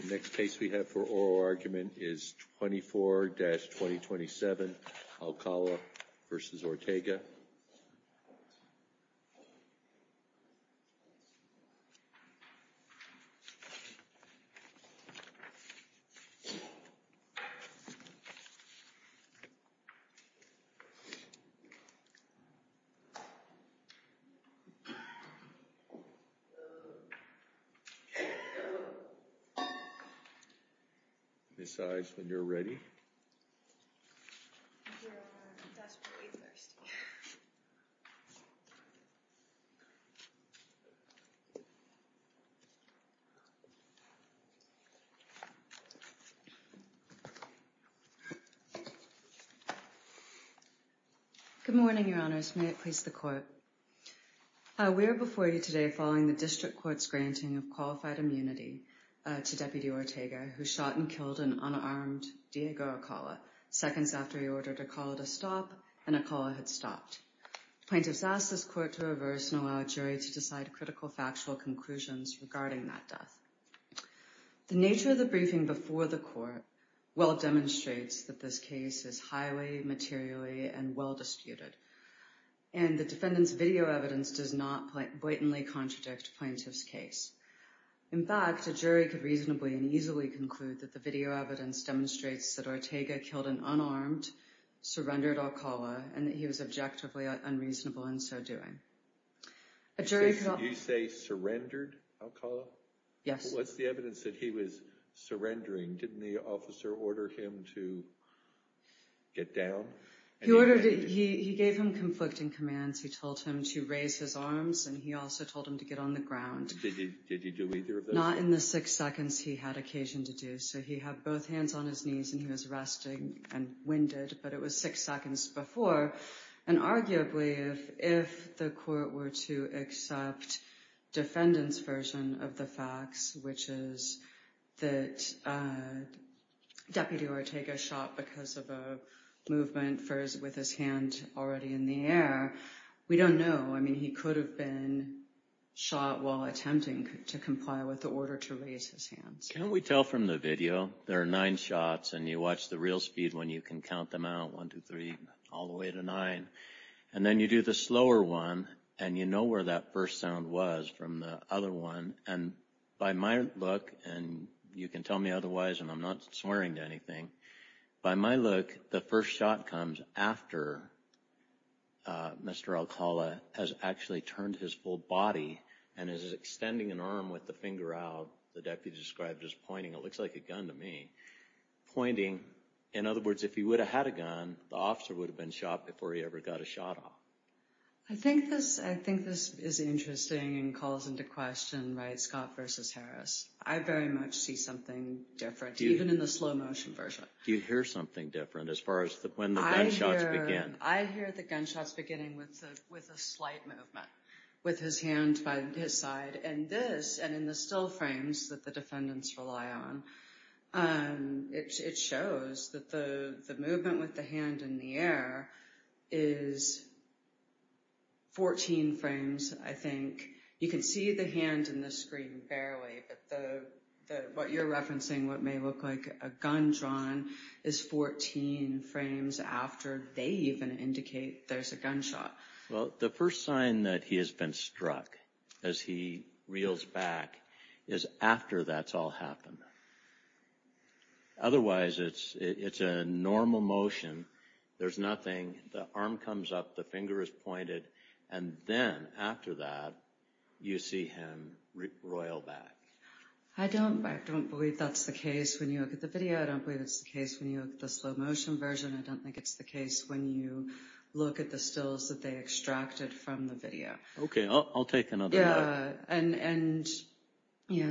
The next case we have for oral argument is 24-2027, Alcala v. Ortega. Ms. Saez, when you're ready. We are before you today following the District Court's granting of qualified immunity to Deputy Ortega, who shot and killed an unarmed Diego Alcala seconds after he ordered Alcala to stop, and Alcala had stopped. Plaintiffs asked this court to reverse and allow a jury to decide critical factual conclusions regarding that death. The nature of the briefing before the court well demonstrates that this case is highly materially and well disputed, and the defendant's video evidence does not blatantly contradict plaintiff's case. In fact, a jury could reasonably and easily conclude that the video evidence demonstrates that Ortega killed an unarmed, surrendered Alcala, and that he was objectively unreasonable in so doing. A jury could also— Did you say surrendered Alcala? Yes. But what's the evidence that he was surrendering? Didn't the officer order him to get down? He gave him conflicting commands. He told him to raise his arms, and he also told him to get on the ground. Did he do either of those? Not in the six seconds he had occasion to do. So he had both hands on his knees, and he was resting and winded, but it was six seconds before, and arguably, if the court were to accept defendant's version of the facts, which is that Deputy Ortega shot because of a movement with his hand already in the air, we don't know. I mean, he could have been shot while attempting to comply with the order to raise his hands. Can't we tell from the video, there are nine shots, and you watch the real speed when you can count them out, one, two, three, all the way to nine. And then you do the slower one, and you know where that first sound was from the other one. And by my look, and you can tell me otherwise, and I'm not swearing to anything, by my look, the first shot comes after Mr. Alcala has actually turned his full body and is extending an arm with the finger out, the deputy described as pointing, it looks like a gun to me, pointing. In other words, if he would have had a gun, the officer would have been shot before he ever got a shot off. I think this is interesting and calls into question, right, Scott versus Harris. I very much see something different, even in the slow motion version. Do you hear something different as far as when the gunshots begin? I hear the gunshots beginning with a slight movement with his hand by his side. And this, and in the still frames that the defendants rely on, it shows that the movement with the hand in the air is 14 frames, I think. You can see the hand in the screen fairly, but what you're referencing, what may look like a gun drawn, is 14 frames after they even indicate there's a gunshot. Well, the first sign that he has been struck as he reels back is after that's all happened. Otherwise it's a normal motion, there's nothing, the arm comes up, the finger is pointed, and then after that, you see him roil back. I don't believe that's the case when you look at the video, I don't believe it's the case when you look at the slow motion version, I don't think it's the case when you look at the stills that they extracted from the video. Okay, I'll take another look. Yeah, and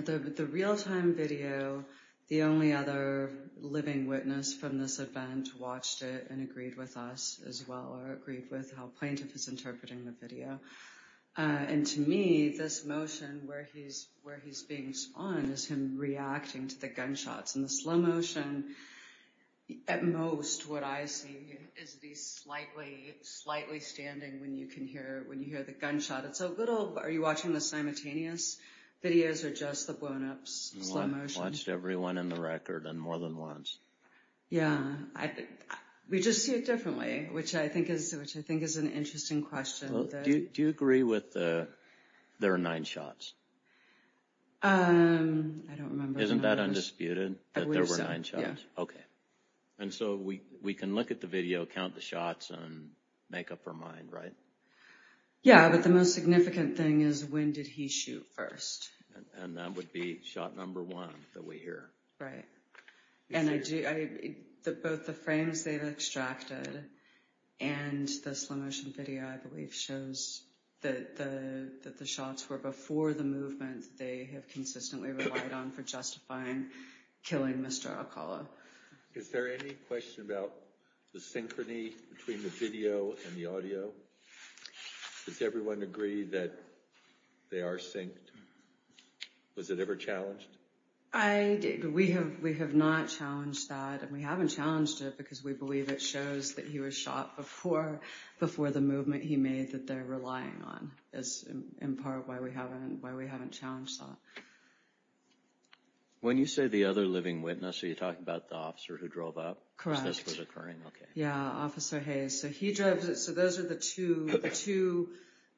the real-time video, the only other living witness from this event watched it and agreed with us as well, or agreed with how Plaintiff is interpreting the video. And to me, this motion where he's being spawned is him reacting to the gunshots, and the slow motion, at most, what I see is that he's slightly standing when you hear the gunshot. It's a little, are you watching the simultaneous videos, or just the blown-up slow motion? Watched every one in the record, and more than once. Yeah, we just see it differently, which I think is an interesting question. Do you agree with the, there are nine shots? Um, I don't remember. Isn't that undisputed? I believe so. That there were nine shots? Yeah. Okay. And so, we can look at the video, count the shots, and make up our mind, right? Yeah, but the most significant thing is when did he shoot first? And that would be shot number one that we hear. Right. And I do, both the frames they've extracted and the slow motion video, I believe, shows that the shots were before the movement they have consistently relied on for justifying killing Mr. Alcala. Is there any question about the synchrony between the video and the audio? Does everyone agree that they are synced? Was it ever challenged? I, we have not challenged that, and we haven't challenged it because we believe it shows that he was shot before the movement he made that they're relying on, is in part why we haven't challenged that. When you say the other living witness, are you talking about the officer who drove up? Correct. So this was occurring? Okay. Yeah, Officer Hayes. So he drives, so those are the two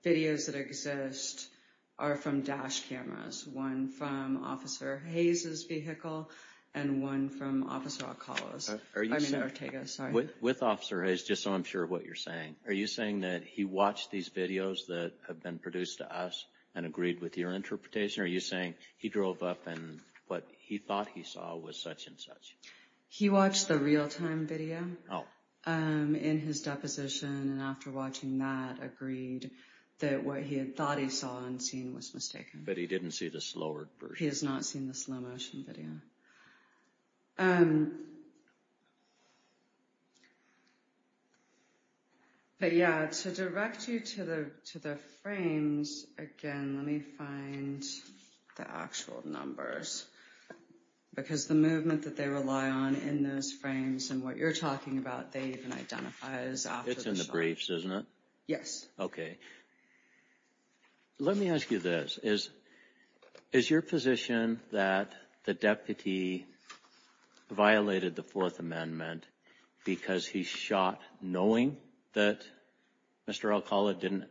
videos that exist are from dash cameras. One from Officer Hayes's vehicle and one from Officer Alcala's, I mean Ortega's, sorry. With Officer Hayes, just so I'm sure of what you're saying, are you saying that he watched these videos that have been produced to us and agreed with your interpretation? Are you saying he drove up and what he thought he saw was such and such? He watched the real time video in his deposition and after watching that agreed that what he had thought he saw and seen was mistaken. But he didn't see the slower version? He has not seen the slow motion video. But yeah, to direct you to the frames, again, let me find the actual numbers because the movement that they rely on in those frames and what you're talking about, they even identify as after the shot. It's in the briefs, isn't it? Yes. Okay. Let me ask you this. Is your position that the deputy violated the Fourth Amendment because he shot knowing that Mr. Alcala didn't,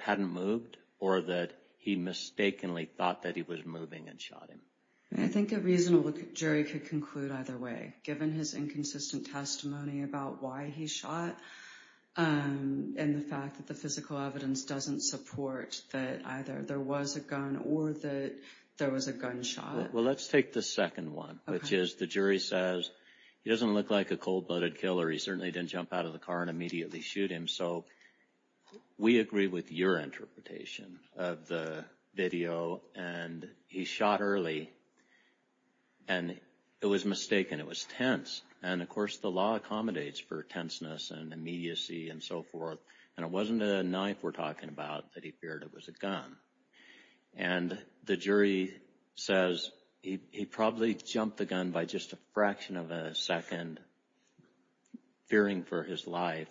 hadn't moved or that he mistakenly thought that he was moving and shot him? I think a reasonable jury could conclude either way, given his inconsistent testimony about why he shot and the fact that the physical evidence doesn't support that either there was a gun or that there was a gunshot. Well, let's take the second one, which is the jury says he doesn't look like a cold-blooded killer. He certainly didn't jump out of the car and immediately shoot him. So we agree with your interpretation of the video and he shot early and it was mistaken. It was tense. And of course, the law accommodates for tenseness and immediacy and so forth. And it wasn't a knife we're talking about that he feared it was a gun. And the jury says he probably jumped the gun by just a fraction of a second, fearing for his life.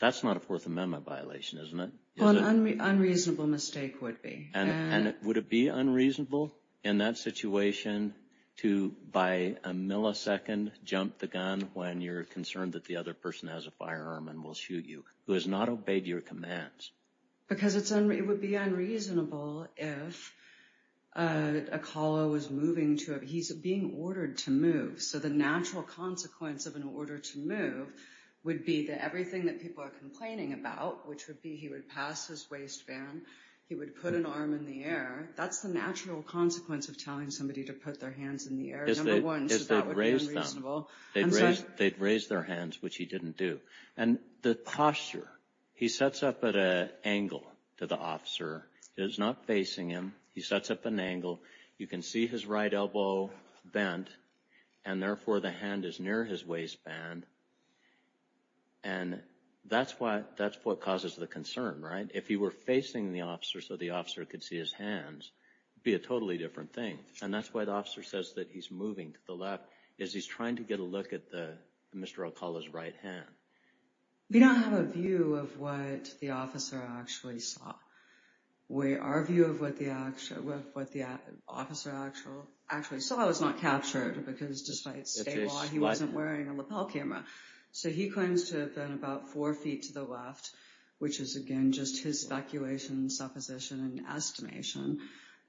That's not a Fourth Amendment violation, isn't it? Well, an unreasonable mistake would be. And would it be unreasonable in that situation to, by a millisecond, jump the gun when you're concerned that the other person has a firearm and will shoot you, who has not obeyed your commands? Because it would be unreasonable if a caller was moving to a... he's being ordered to move. So the natural consequence of an order to move would be that everything that people are complaining about, which would be he would pass his waistband, he would put an arm in the air. That's the natural consequence of telling somebody to put their hands in the air, number one, so that would be unreasonable. They'd raise their hands, which he didn't do. And the posture. He sets up at an angle to the officer. He's not facing him. He sets up an angle. You can see his right elbow bent and therefore the hand is near his waistband. And that's what causes the concern, right? If he were facing the officer so the officer could see his hands, it would be a totally different thing. And that's why the officer says that he's moving to the left, is he's trying to get a look at Mr. Alcala's right hand. We don't have a view of what the officer actually saw. Our view of what the officer actually saw was not captured, because despite state law he wasn't wearing a lapel camera. So he claims to have been about four feet to the left, which is, again, just his speculation, supposition, and estimation.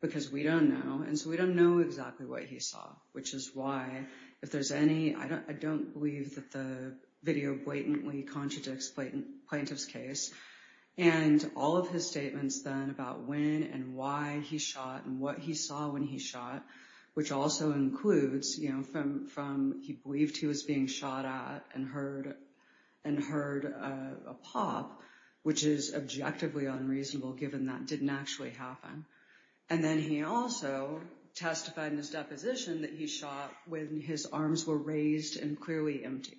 Because we don't know. And so we don't know exactly what he saw, which is why, if there's any, I don't believe that the video blatantly contradicts Plaintiff's case. And all of his statements then about when and why he shot and what he saw when he shot, which also includes from he believed he was being shot at and heard a pop, which is objectively unreasonable given that didn't actually happen. And then he also testified in his deposition that he shot when his arms were raised and clearly empty.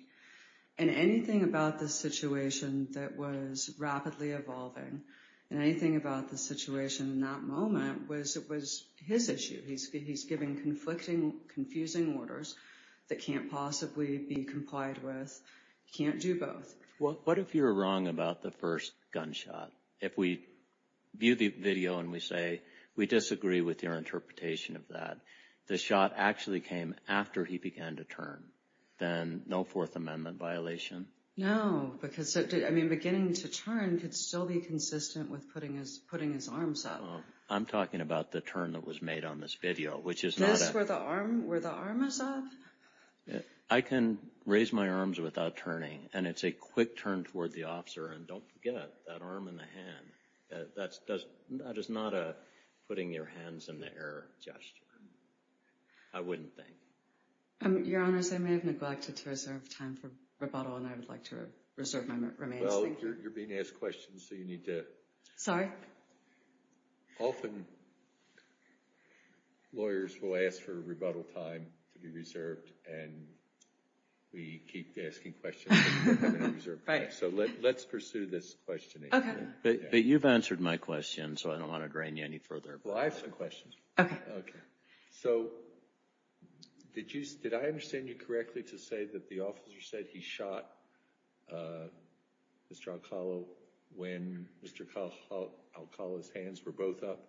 And anything about this situation that was rapidly evolving and anything about the situation in that moment was his issue. He's giving conflicting, confusing orders that can't possibly be complied with. He can't do both. What if you're wrong about the first gunshot? If we view the video and we say, we disagree with your interpretation of that, the shot actually came after he began to turn, then no Fourth Amendment violation? No. Because, I mean, beginning to turn could still be consistent with putting his arms up. I'm talking about the turn that was made on this video, which is not a... This, where the arm is up? I can raise my arms without turning and it's a quick turn toward the officer. And don't forget that arm and the hand. That is not a putting your hands in the air gesture. I wouldn't think. Your Honor, I may have neglected to reserve time for rebuttal and I would like to reserve my remains. Well, you're being asked questions, so you need to... Sorry? Often, lawyers will ask for rebuttal time to be reserved and we keep asking questions that we haven't reserved time for. So let's pursue this questioning. Okay. But you've answered my question, so I don't want to drain you any further. Well, I have some questions. Okay. Okay. So, did I understand you correctly to say that the officer said he shot Mr. Alcala when Mr. Alcala's hands were both up?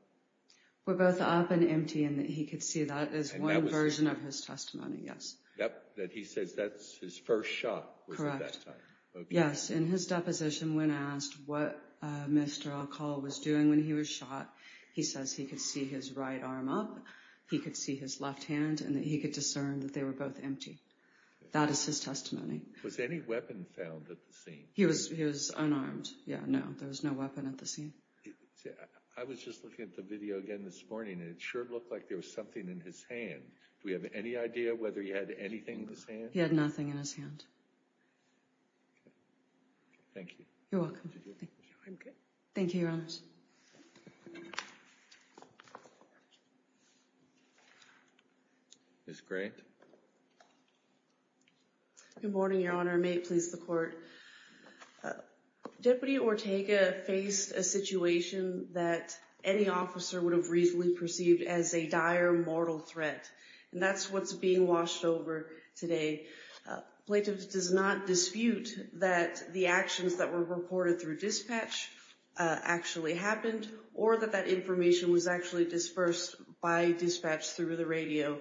Were both up and empty and that he could see that as one version of his testimony, yes. Yep. That he says that's his first shot was at that time. Yes. In his deposition, when asked what Mr. Alcala was doing when he was shot, he says he could see his right arm up, he could see his left hand, and that he could discern that they were both empty. That is his testimony. Was any weapon found at the scene? He was unarmed. Yeah, no. There was no weapon at the scene. I was just looking at the video again this morning, and it sure looked like there was something in his hand. Do we have any idea whether he had anything in his hand? He had nothing in his hand. Okay. Thank you. You're welcome. Thank you. I'm good. Thank you. You're honest. Ms. Grant? Good morning, Your Honor. May it please the Court. Deputy Ortega faced a situation that any officer would have reasonably perceived as a dire mortal threat, and that's what's being washed over today. Plaintiff does not dispute that the actions that were reported through dispatch actually happened or that that information was actually dispersed by dispatch through the radio.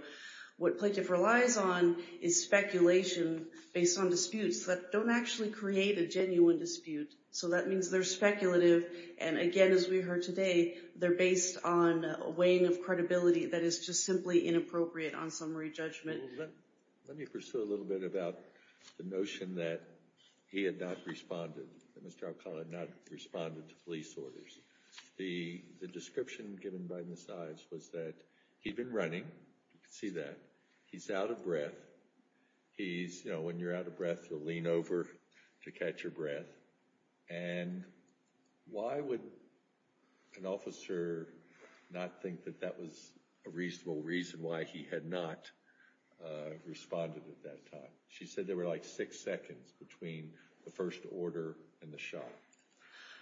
What Plaintiff relies on is speculation based on disputes that don't actually create a genuine dispute. So that means they're speculative, and again, as we heard today, they're based on a weighing of credibility that is just simply inappropriate on summary judgment. Well, let me pursue a little bit about the notion that he had not responded, that Mr. Alcala had not responded to police orders. The description given by Ms. Ives was that he'd been running, you can see that, he's out of breath. He's, you know, when you're out of breath, you'll lean over to catch your breath. And why would an officer not think that that was a reasonable reason why he had not responded at that time? She said there were like six seconds between the first order and the shot.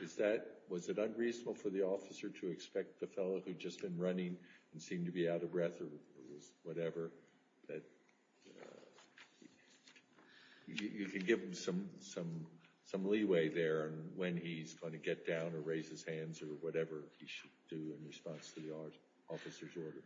Is that, was it unreasonable for the officer to expect the fellow who'd just been running and seemed to be out of breath or whatever, that you can give him some leeway there when he's going to get down or raise his hands or whatever he should do in response to the officer's orders?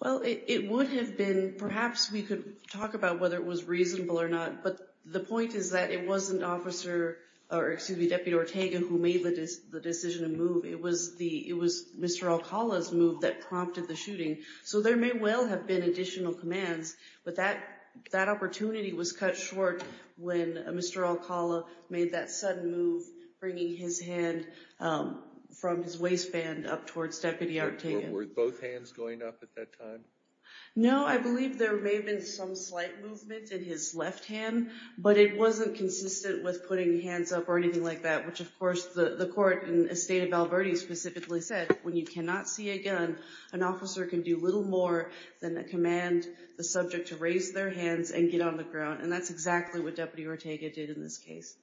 Well, it would have been, perhaps we could talk about whether it was reasonable or not, but the point is that it wasn't Deputy Ortega who made the decision to move. It was Mr. Alcala's move that prompted the shooting. So there may well have been additional commands, but that opportunity was cut short when Mr. Alcala made that sudden move, bringing his hand from his waistband up towards Deputy Ortega. Were both hands going up at that time? No, I believe there may have been some slight movement in his left hand, but it wasn't consistent with putting hands up or anything like that, which of course the court in the state of Val Verde specifically said, when you cannot see a gun, an officer can do little more than command the subject to raise their hands and get on the ground. And that's exactly what Deputy Ortega did in this case.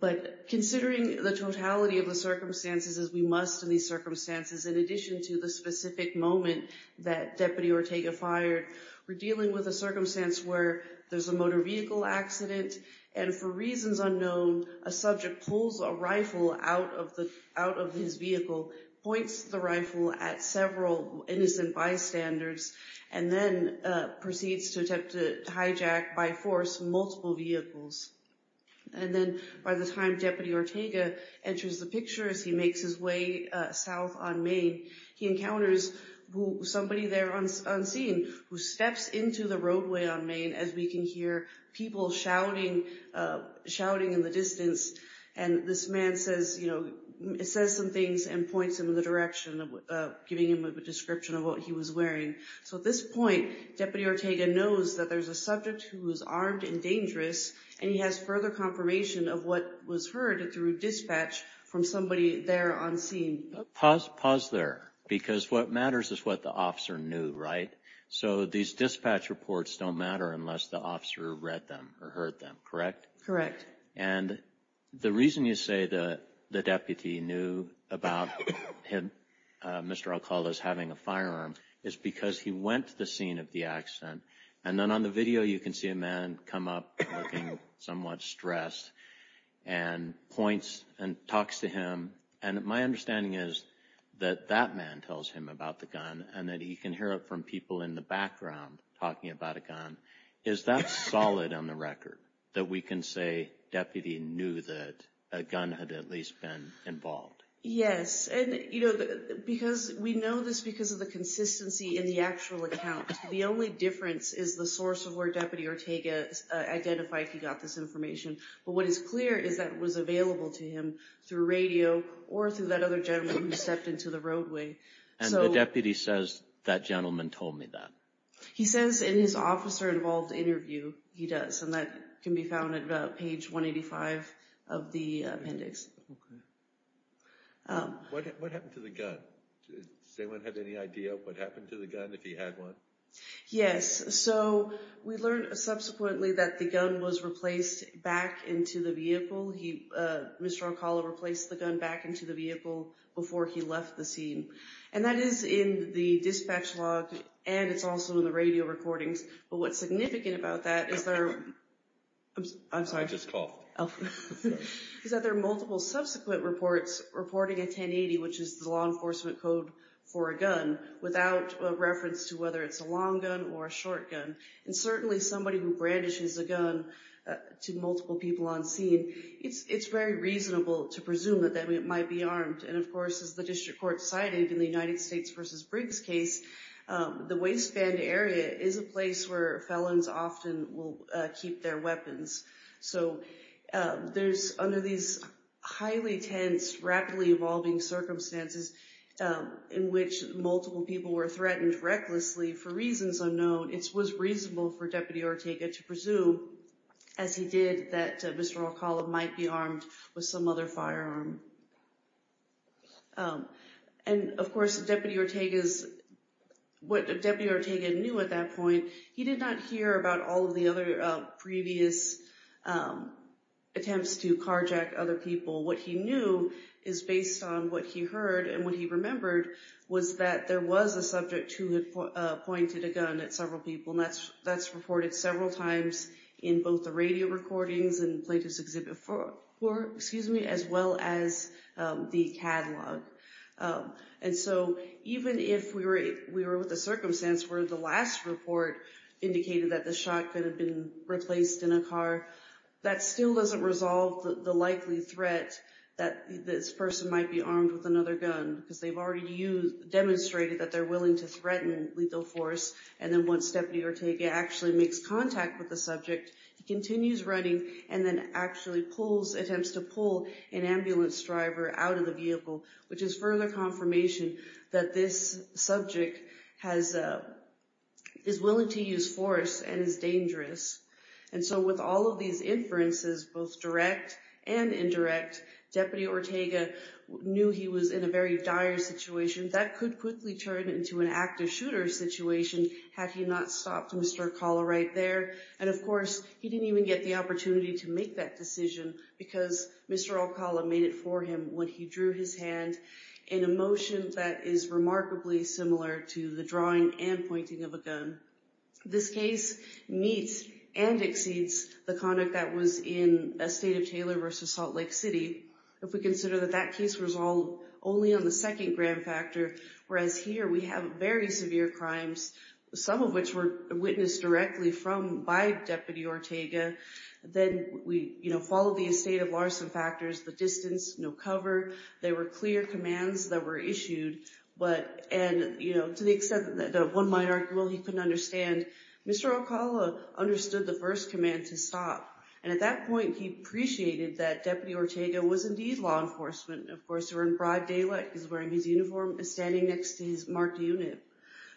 But considering the totality of the circumstances, as we must in these circumstances, in addition to the specific moment that Deputy Ortega fired, we're dealing with a circumstance where there's a motor vehicle accident, and for reasons unknown, a subject pulls a rifle out of his vehicle, points the rifle at several innocent bystanders, and then proceeds to attempt to hijack, by force, multiple vehicles. And then by the time Deputy Ortega enters the picture as he makes his way south on Main, he encounters somebody there on scene who steps into the roadway on Main as we can hear people shouting in the distance. And this man says some things and points him in the direction, giving him a description of what he was wearing. So at this point, Deputy Ortega knows that there's a subject who is armed and dangerous, and he has further confirmation of what was heard through dispatch from somebody there on scene. Pause there, because what matters is what the officer knew, right? So these dispatch reports don't matter unless the officer read them or heard them, correct? Correct. And the reason you say the deputy knew about him, Mr. Alcala's having a firearm, is because he went to the scene of the accident. And then on the video, you can see a man come up looking somewhat stressed, and points and talks to him. And my understanding is that that man tells him about the gun, and that he can hear it from people in the background talking about a gun. Is that solid on the record, that we can say deputy knew that a gun had at least been involved? Yes. And, you know, because we know this because of the consistency in the actual account. The only difference is the source of where Deputy Ortega identified he got this information. But what is clear is that it was available to him through radio, or through that other gentleman who stepped into the roadway. And the deputy says, that gentleman told me that? He says in his officer-involved interview, he does. And that can be found at page 185 of the appendix. Okay. What happened to the gun? Does anyone have any idea what happened to the gun, if he had one? Yes. So, we learned subsequently that the gun was replaced back into the vehicle. Mr. Oncala replaced the gun back into the vehicle before he left the scene. And that is in the dispatch log, and it's also in the radio recordings. But what's significant about that is there... I'm sorry. I just coughed. ...is that there are multiple subsequent reports reporting a 1080, which is the law enforcement code for a gun, without reference to whether it's a long gun or a short gun. And certainly somebody who brandishes a gun to multiple people on scene, it's very reasonable to presume that it might be armed. And of course, as the district court cited in the United States v. Briggs case, the waistband area is a place where felons often will keep their weapons. So there's, under these highly tense, rapidly evolving circumstances in which multiple people were threatened recklessly for reasons unknown, it was reasonable for Deputy Ortega to presume, as he did, that Mr. Oncala might be armed with some other firearm. And of course, what Deputy Ortega knew at that point, he did not hear about all of the other previous attempts to carjack other people. What he knew is based on what he heard and what he remembered was that there was a subject who had pointed a gun at several people, and that's reported several times in both the radio recordings and Plaintiff's Exhibit 4, as well as the catalog. And so even if we were with the circumstance where the last report indicated that the shot could have been replaced in a car, that still doesn't resolve the likely threat that this person might be armed with another gun, because they've already demonstrated that they're willing to threaten lethal force. And then once Deputy Ortega actually makes contact with the subject, he continues running and then actually attempts to pull an ambulance driver out of the vehicle, which is further confirmation that this subject is willing to use force and is dangerous. And so with all of these inferences, both direct and indirect, Deputy Ortega knew he was in a very dire situation that could quickly turn into an active shooter situation had he not stopped Mr. Oncala right there. And of course, he didn't even get the opportunity to make that decision because Mr. Oncala made it for him when he drew his hand in a motion that is remarkably similar to the drawing and pointing of a gun. This case meets and exceeds the conduct that was in Estate of Taylor v. Salt Lake City if we consider that that case was only on the second grand factor, whereas here we have very severe crimes, some of which were witnessed directly by Deputy Ortega. Then we followed the Estate of Larson factors, the distance, no cover, there were clear commands that were issued, but to the extent that one might argue he couldn't understand, Mr. Oncala understood the first command to stop, and at that point he appreciated that Deputy Ortega was indeed law enforcement. Of course, they were in broad daylight, he was wearing his uniform and standing next to his marked unit.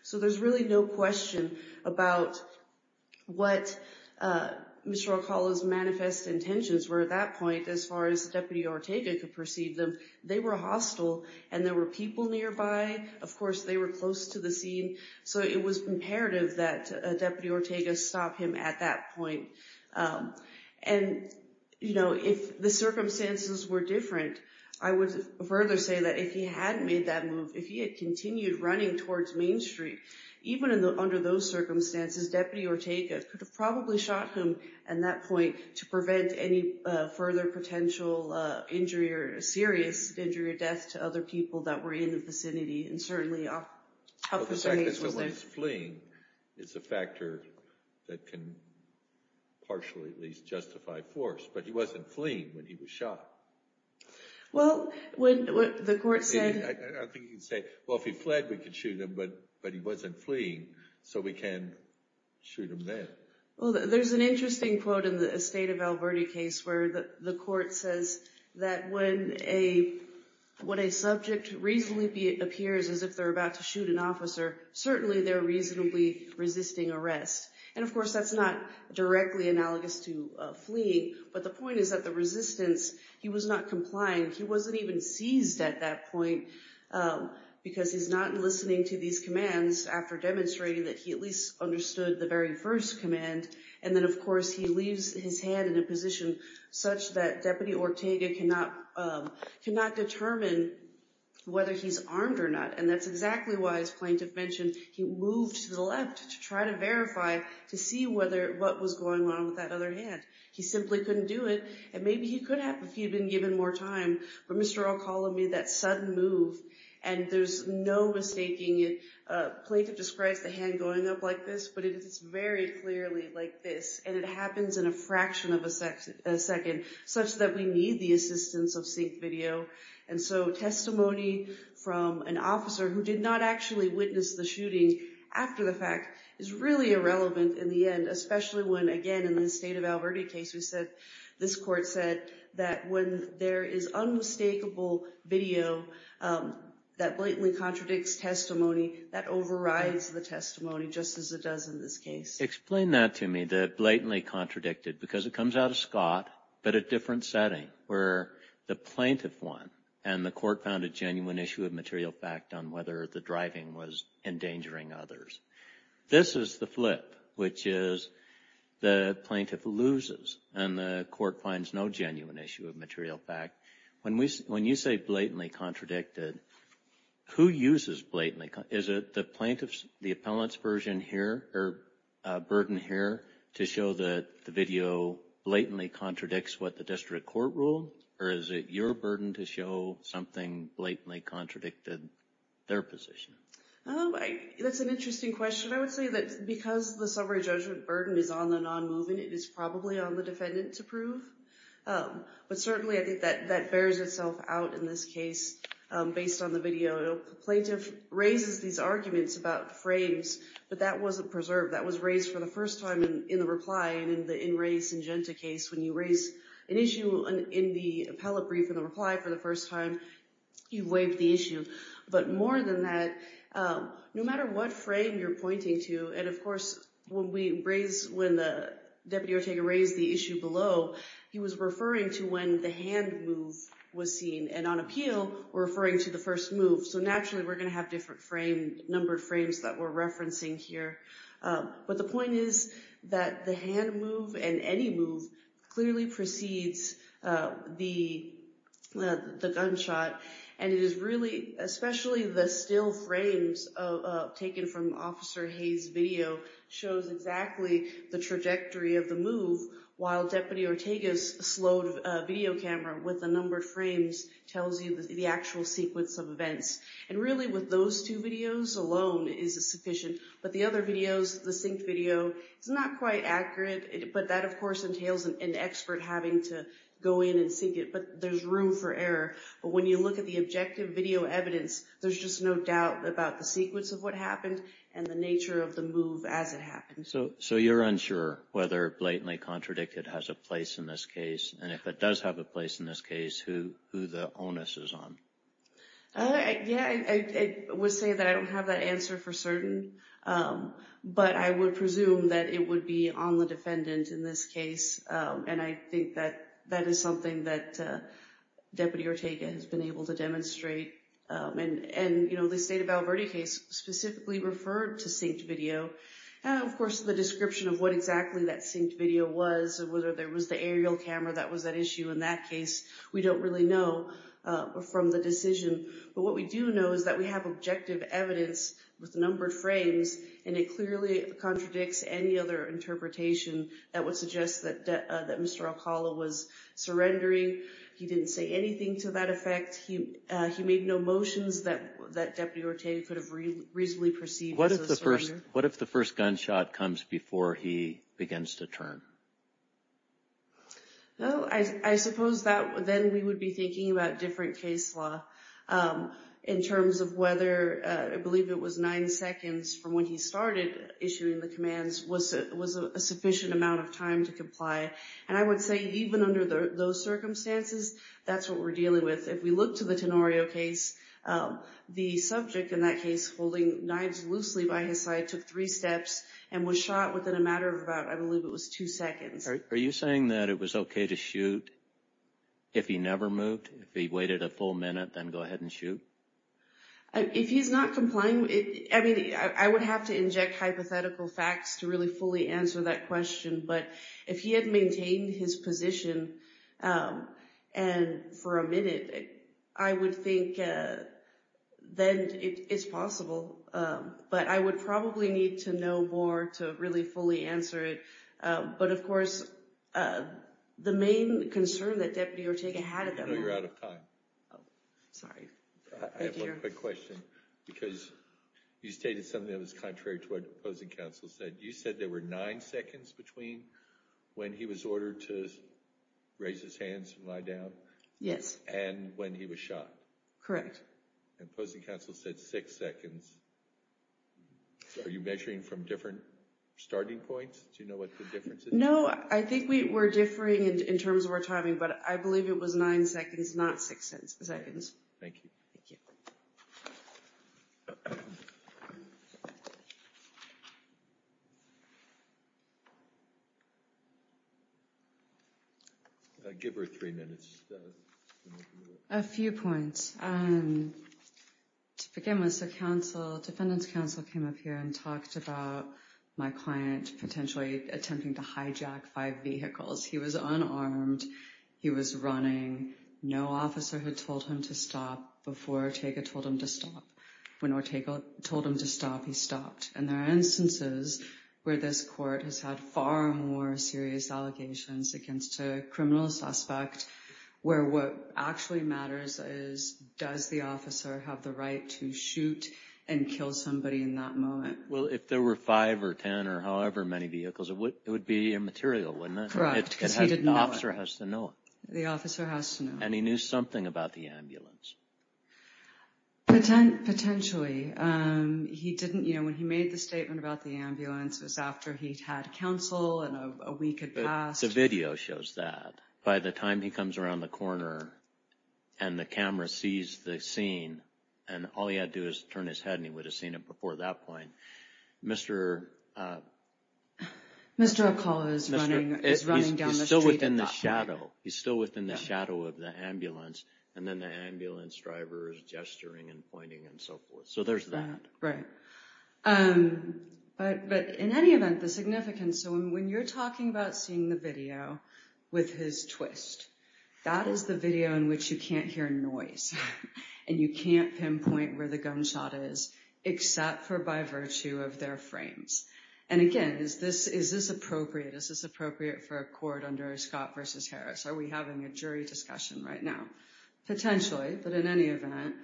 So there's really no question about what Mr. Oncala's manifest intentions were at that point as far as Deputy Ortega could perceive them. They were hostile and there were people nearby, of course they were close to the scene, so it was imperative that Deputy Ortega stop him at that point. And if the circumstances were different, I would further say that if he had made that decision, even under those circumstances, Deputy Ortega could have probably shot him at that point to prevent any further potential injury or serious injury or death to other people that were in the vicinity and certainly up his range. The fact that he was fleeing is a factor that can partially at least justify force, but he wasn't fleeing when he was shot. I think you can say, well if he fled we could shoot him, but he wasn't fleeing, so we can't shoot him then. Well, there's an interesting quote in the Estate of Alberti case where the court says that when a subject reasonably appears as if they're about to shoot an officer, certainly they're reasonably resisting arrest. And of course that's not directly analogous to fleeing, but the point is that the resistance he was not complying, he wasn't even seized at that point because he's not listening to these commands after demonstrating that he at least understood the very first command. And then of course he leaves his hand in a position such that Deputy Ortega cannot determine whether he's armed or not, and that's exactly why, as plaintiff mentioned, he moved to the left to try to verify, to see what was going on with that other hand. He simply couldn't do it, and maybe he could have if he'd been given more time, but Mr. O'Connell made that sudden move, and there's no mistaking it. Plaintiff describes the hand going up like this, but it is very clearly like this, and it happens in a fraction of a second, such that we need the assistance of sync video. And so testimony from an officer who did not actually witness the shooting after the fact is really irrelevant in the end, especially when, again, in the state of Alberta case, this court said that when there is unmistakable video that blatantly contradicts testimony, that overrides the testimony just as it does in this case. Explain that to me, that blatantly contradicted, because it comes out of Scott, but a different setting where the plaintiff won, and the court found a genuine issue of material fact on whether the driving was endangering others. This is the flip, which is the plaintiff loses, and the court finds no genuine issue of material fact. When you say blatantly contradicted, who uses blatantly? Is it the plaintiff's, the appellant's version here, or burden here, to show that the video blatantly contradicts what the district court ruled, or is it your burden to show something that blatantly contradicted their position? Oh, that's an interesting question. I would say that because the summary judgment burden is on the non-moving, it is probably on the defendant to prove. But certainly I think that bears itself out in this case, based on the video. Plaintiff raises these arguments about frames, but that wasn't preserved. That was raised for the first time in the reply, and in the In Re Syngenta case, when you raise an issue in the appellate brief in the reply for the first time, you've waived the issue. But more than that, no matter what frame you're pointing to, and of course, when the deputy or taker raised the issue below, he was referring to when the hand move was seen. And on appeal, we're referring to the first move. So naturally, we're going to have different numbered frames that we're referencing here. But the point is that the hand move and any move clearly precedes the gunshot. And it is really, especially the still frames taken from Officer Hayes' video, shows exactly the trajectory of the move, while Deputy Ortega's slowed video camera with the numbered frames tells you the actual sequence of events. And really, with those two videos alone is sufficient. But the other videos, the synced video, it's not quite accurate. But that, of course, entails an expert having to go in and sync it, but there's room for But when you look at the objective video evidence, there's just no doubt about the sequence of what happened and the nature of the move as it happened. So you're unsure whether Blatantly Contradicted has a place in this case, and if it does have a place in this case, who the onus is on? Yeah, I would say that I don't have that answer for certain, but I would presume that it would be on the defendant in this case. And I think that that is something that Deputy Ortega has been able to demonstrate. And the State of Alberta case specifically referred to synced video, and of course the description of what exactly that synced video was, whether there was the aerial camera that was at issue in that case, we don't really know from the decision. But what we do know is that we have objective evidence with numbered frames, and it clearly contradicts any other interpretation that would suggest that Mr. Alcala was surrendering. He didn't say anything to that effect. He made no motions that Deputy Ortega could have reasonably perceived as a surrender. What if the first gunshot comes before he begins to turn? Well, I suppose that then we would be thinking about different case law in terms of whether I believe it was nine seconds from when he started issuing the commands was a sufficient amount of time to comply. And I would say even under those circumstances, that's what we're dealing with. If we look to the Tenorio case, the subject in that case holding knives loosely by his side took three steps and was shot within a matter of about, I believe it was two seconds. Are you saying that it was okay to shoot if he never moved? If he waited a full minute, then go ahead and shoot? If he's not complying, I mean, I would have to inject hypothetical facts to really fully answer that question. But if he had maintained his position for a minute, I would think then it's possible. But I would probably need to know more to really fully answer it. But, of course, the main concern that Deputy Ortega had at that moment... I know you're out of time. Sorry. I have one quick question because you stated something that was contrary to what opposing counsel said. You said there were nine seconds between when he was ordered to raise his hands and lie down? Yes. And when he was shot? Correct. And opposing counsel said six seconds. Are you measuring from different starting points? Do you know what the difference is? No. I think we're differing in terms of our timing. But I believe it was nine seconds, not six seconds. Thank you. Give her three minutes. A few points. To begin with, so counsel, defendant's counsel came up here and talked about my client's attempting to hijack five vehicles. He was unarmed. He was running. No officer had told him to stop before Ortega told him to stop. When Ortega told him to stop, he stopped. And there are instances where this court has had far more serious allegations against a criminal suspect where what actually matters is does the officer have the right to shoot and kill somebody in that moment? Well, if there were five or 10 or however many vehicles, it would be immaterial, wouldn't it? Correct. Because he didn't know it. The officer has to know it. The officer has to know it. And he knew something about the ambulance. Potentially. When he made the statement about the ambulance, it was after he'd had counsel and a week had The video shows that. By the time he comes around the corner and the camera sees the scene, and all he had to do is turn his head and he would have seen it before that point. Mr. Ocala is running down the street. He's still within the shadow. He's still within the shadow of the ambulance. And then the ambulance driver is gesturing and pointing and so forth. So there's that. Right. But in any event, the significance. So when you're talking about seeing the video with his twist, that is the video in which you can't hear noise. And you can't pinpoint where the gunshot is, except for by virtue of their frames. And again, is this appropriate? Is this appropriate for a court under Scott versus Harris? Are we having a jury discussion right now? Potentially. But in any event,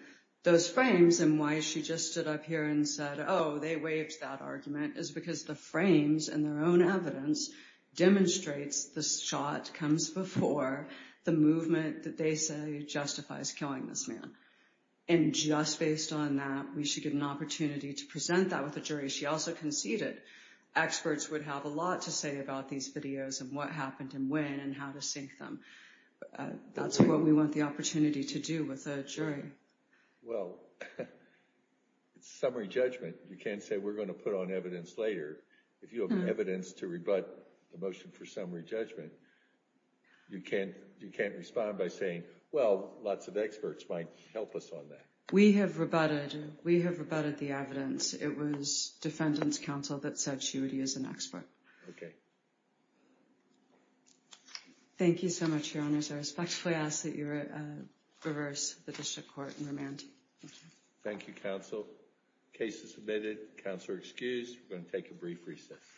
those frames and why she just stood up here and said, oh, they waived that argument is because the frames and their own evidence demonstrates the shot comes before the movement that they say justifies killing this man. And just based on that, we should get an opportunity to present that with a jury. She also conceded experts would have a lot to say about these videos and what happened and when and how to sync them. That's what we want the opportunity to do with a jury. Well, it's summary judgment. You can't say we're going to put on evidence later. If you have evidence to rebut the motion for summary judgment, you can't respond by saying, well, lots of experts might help us on that. We have rebutted. We have rebutted the evidence. It was defendant's counsel that said she would use an expert. Thank you so much, Your Honors. I respectfully ask that you reverse the district court and remand. Thank you, counsel. Case is submitted. Counselor excused. We're going to take a brief recess.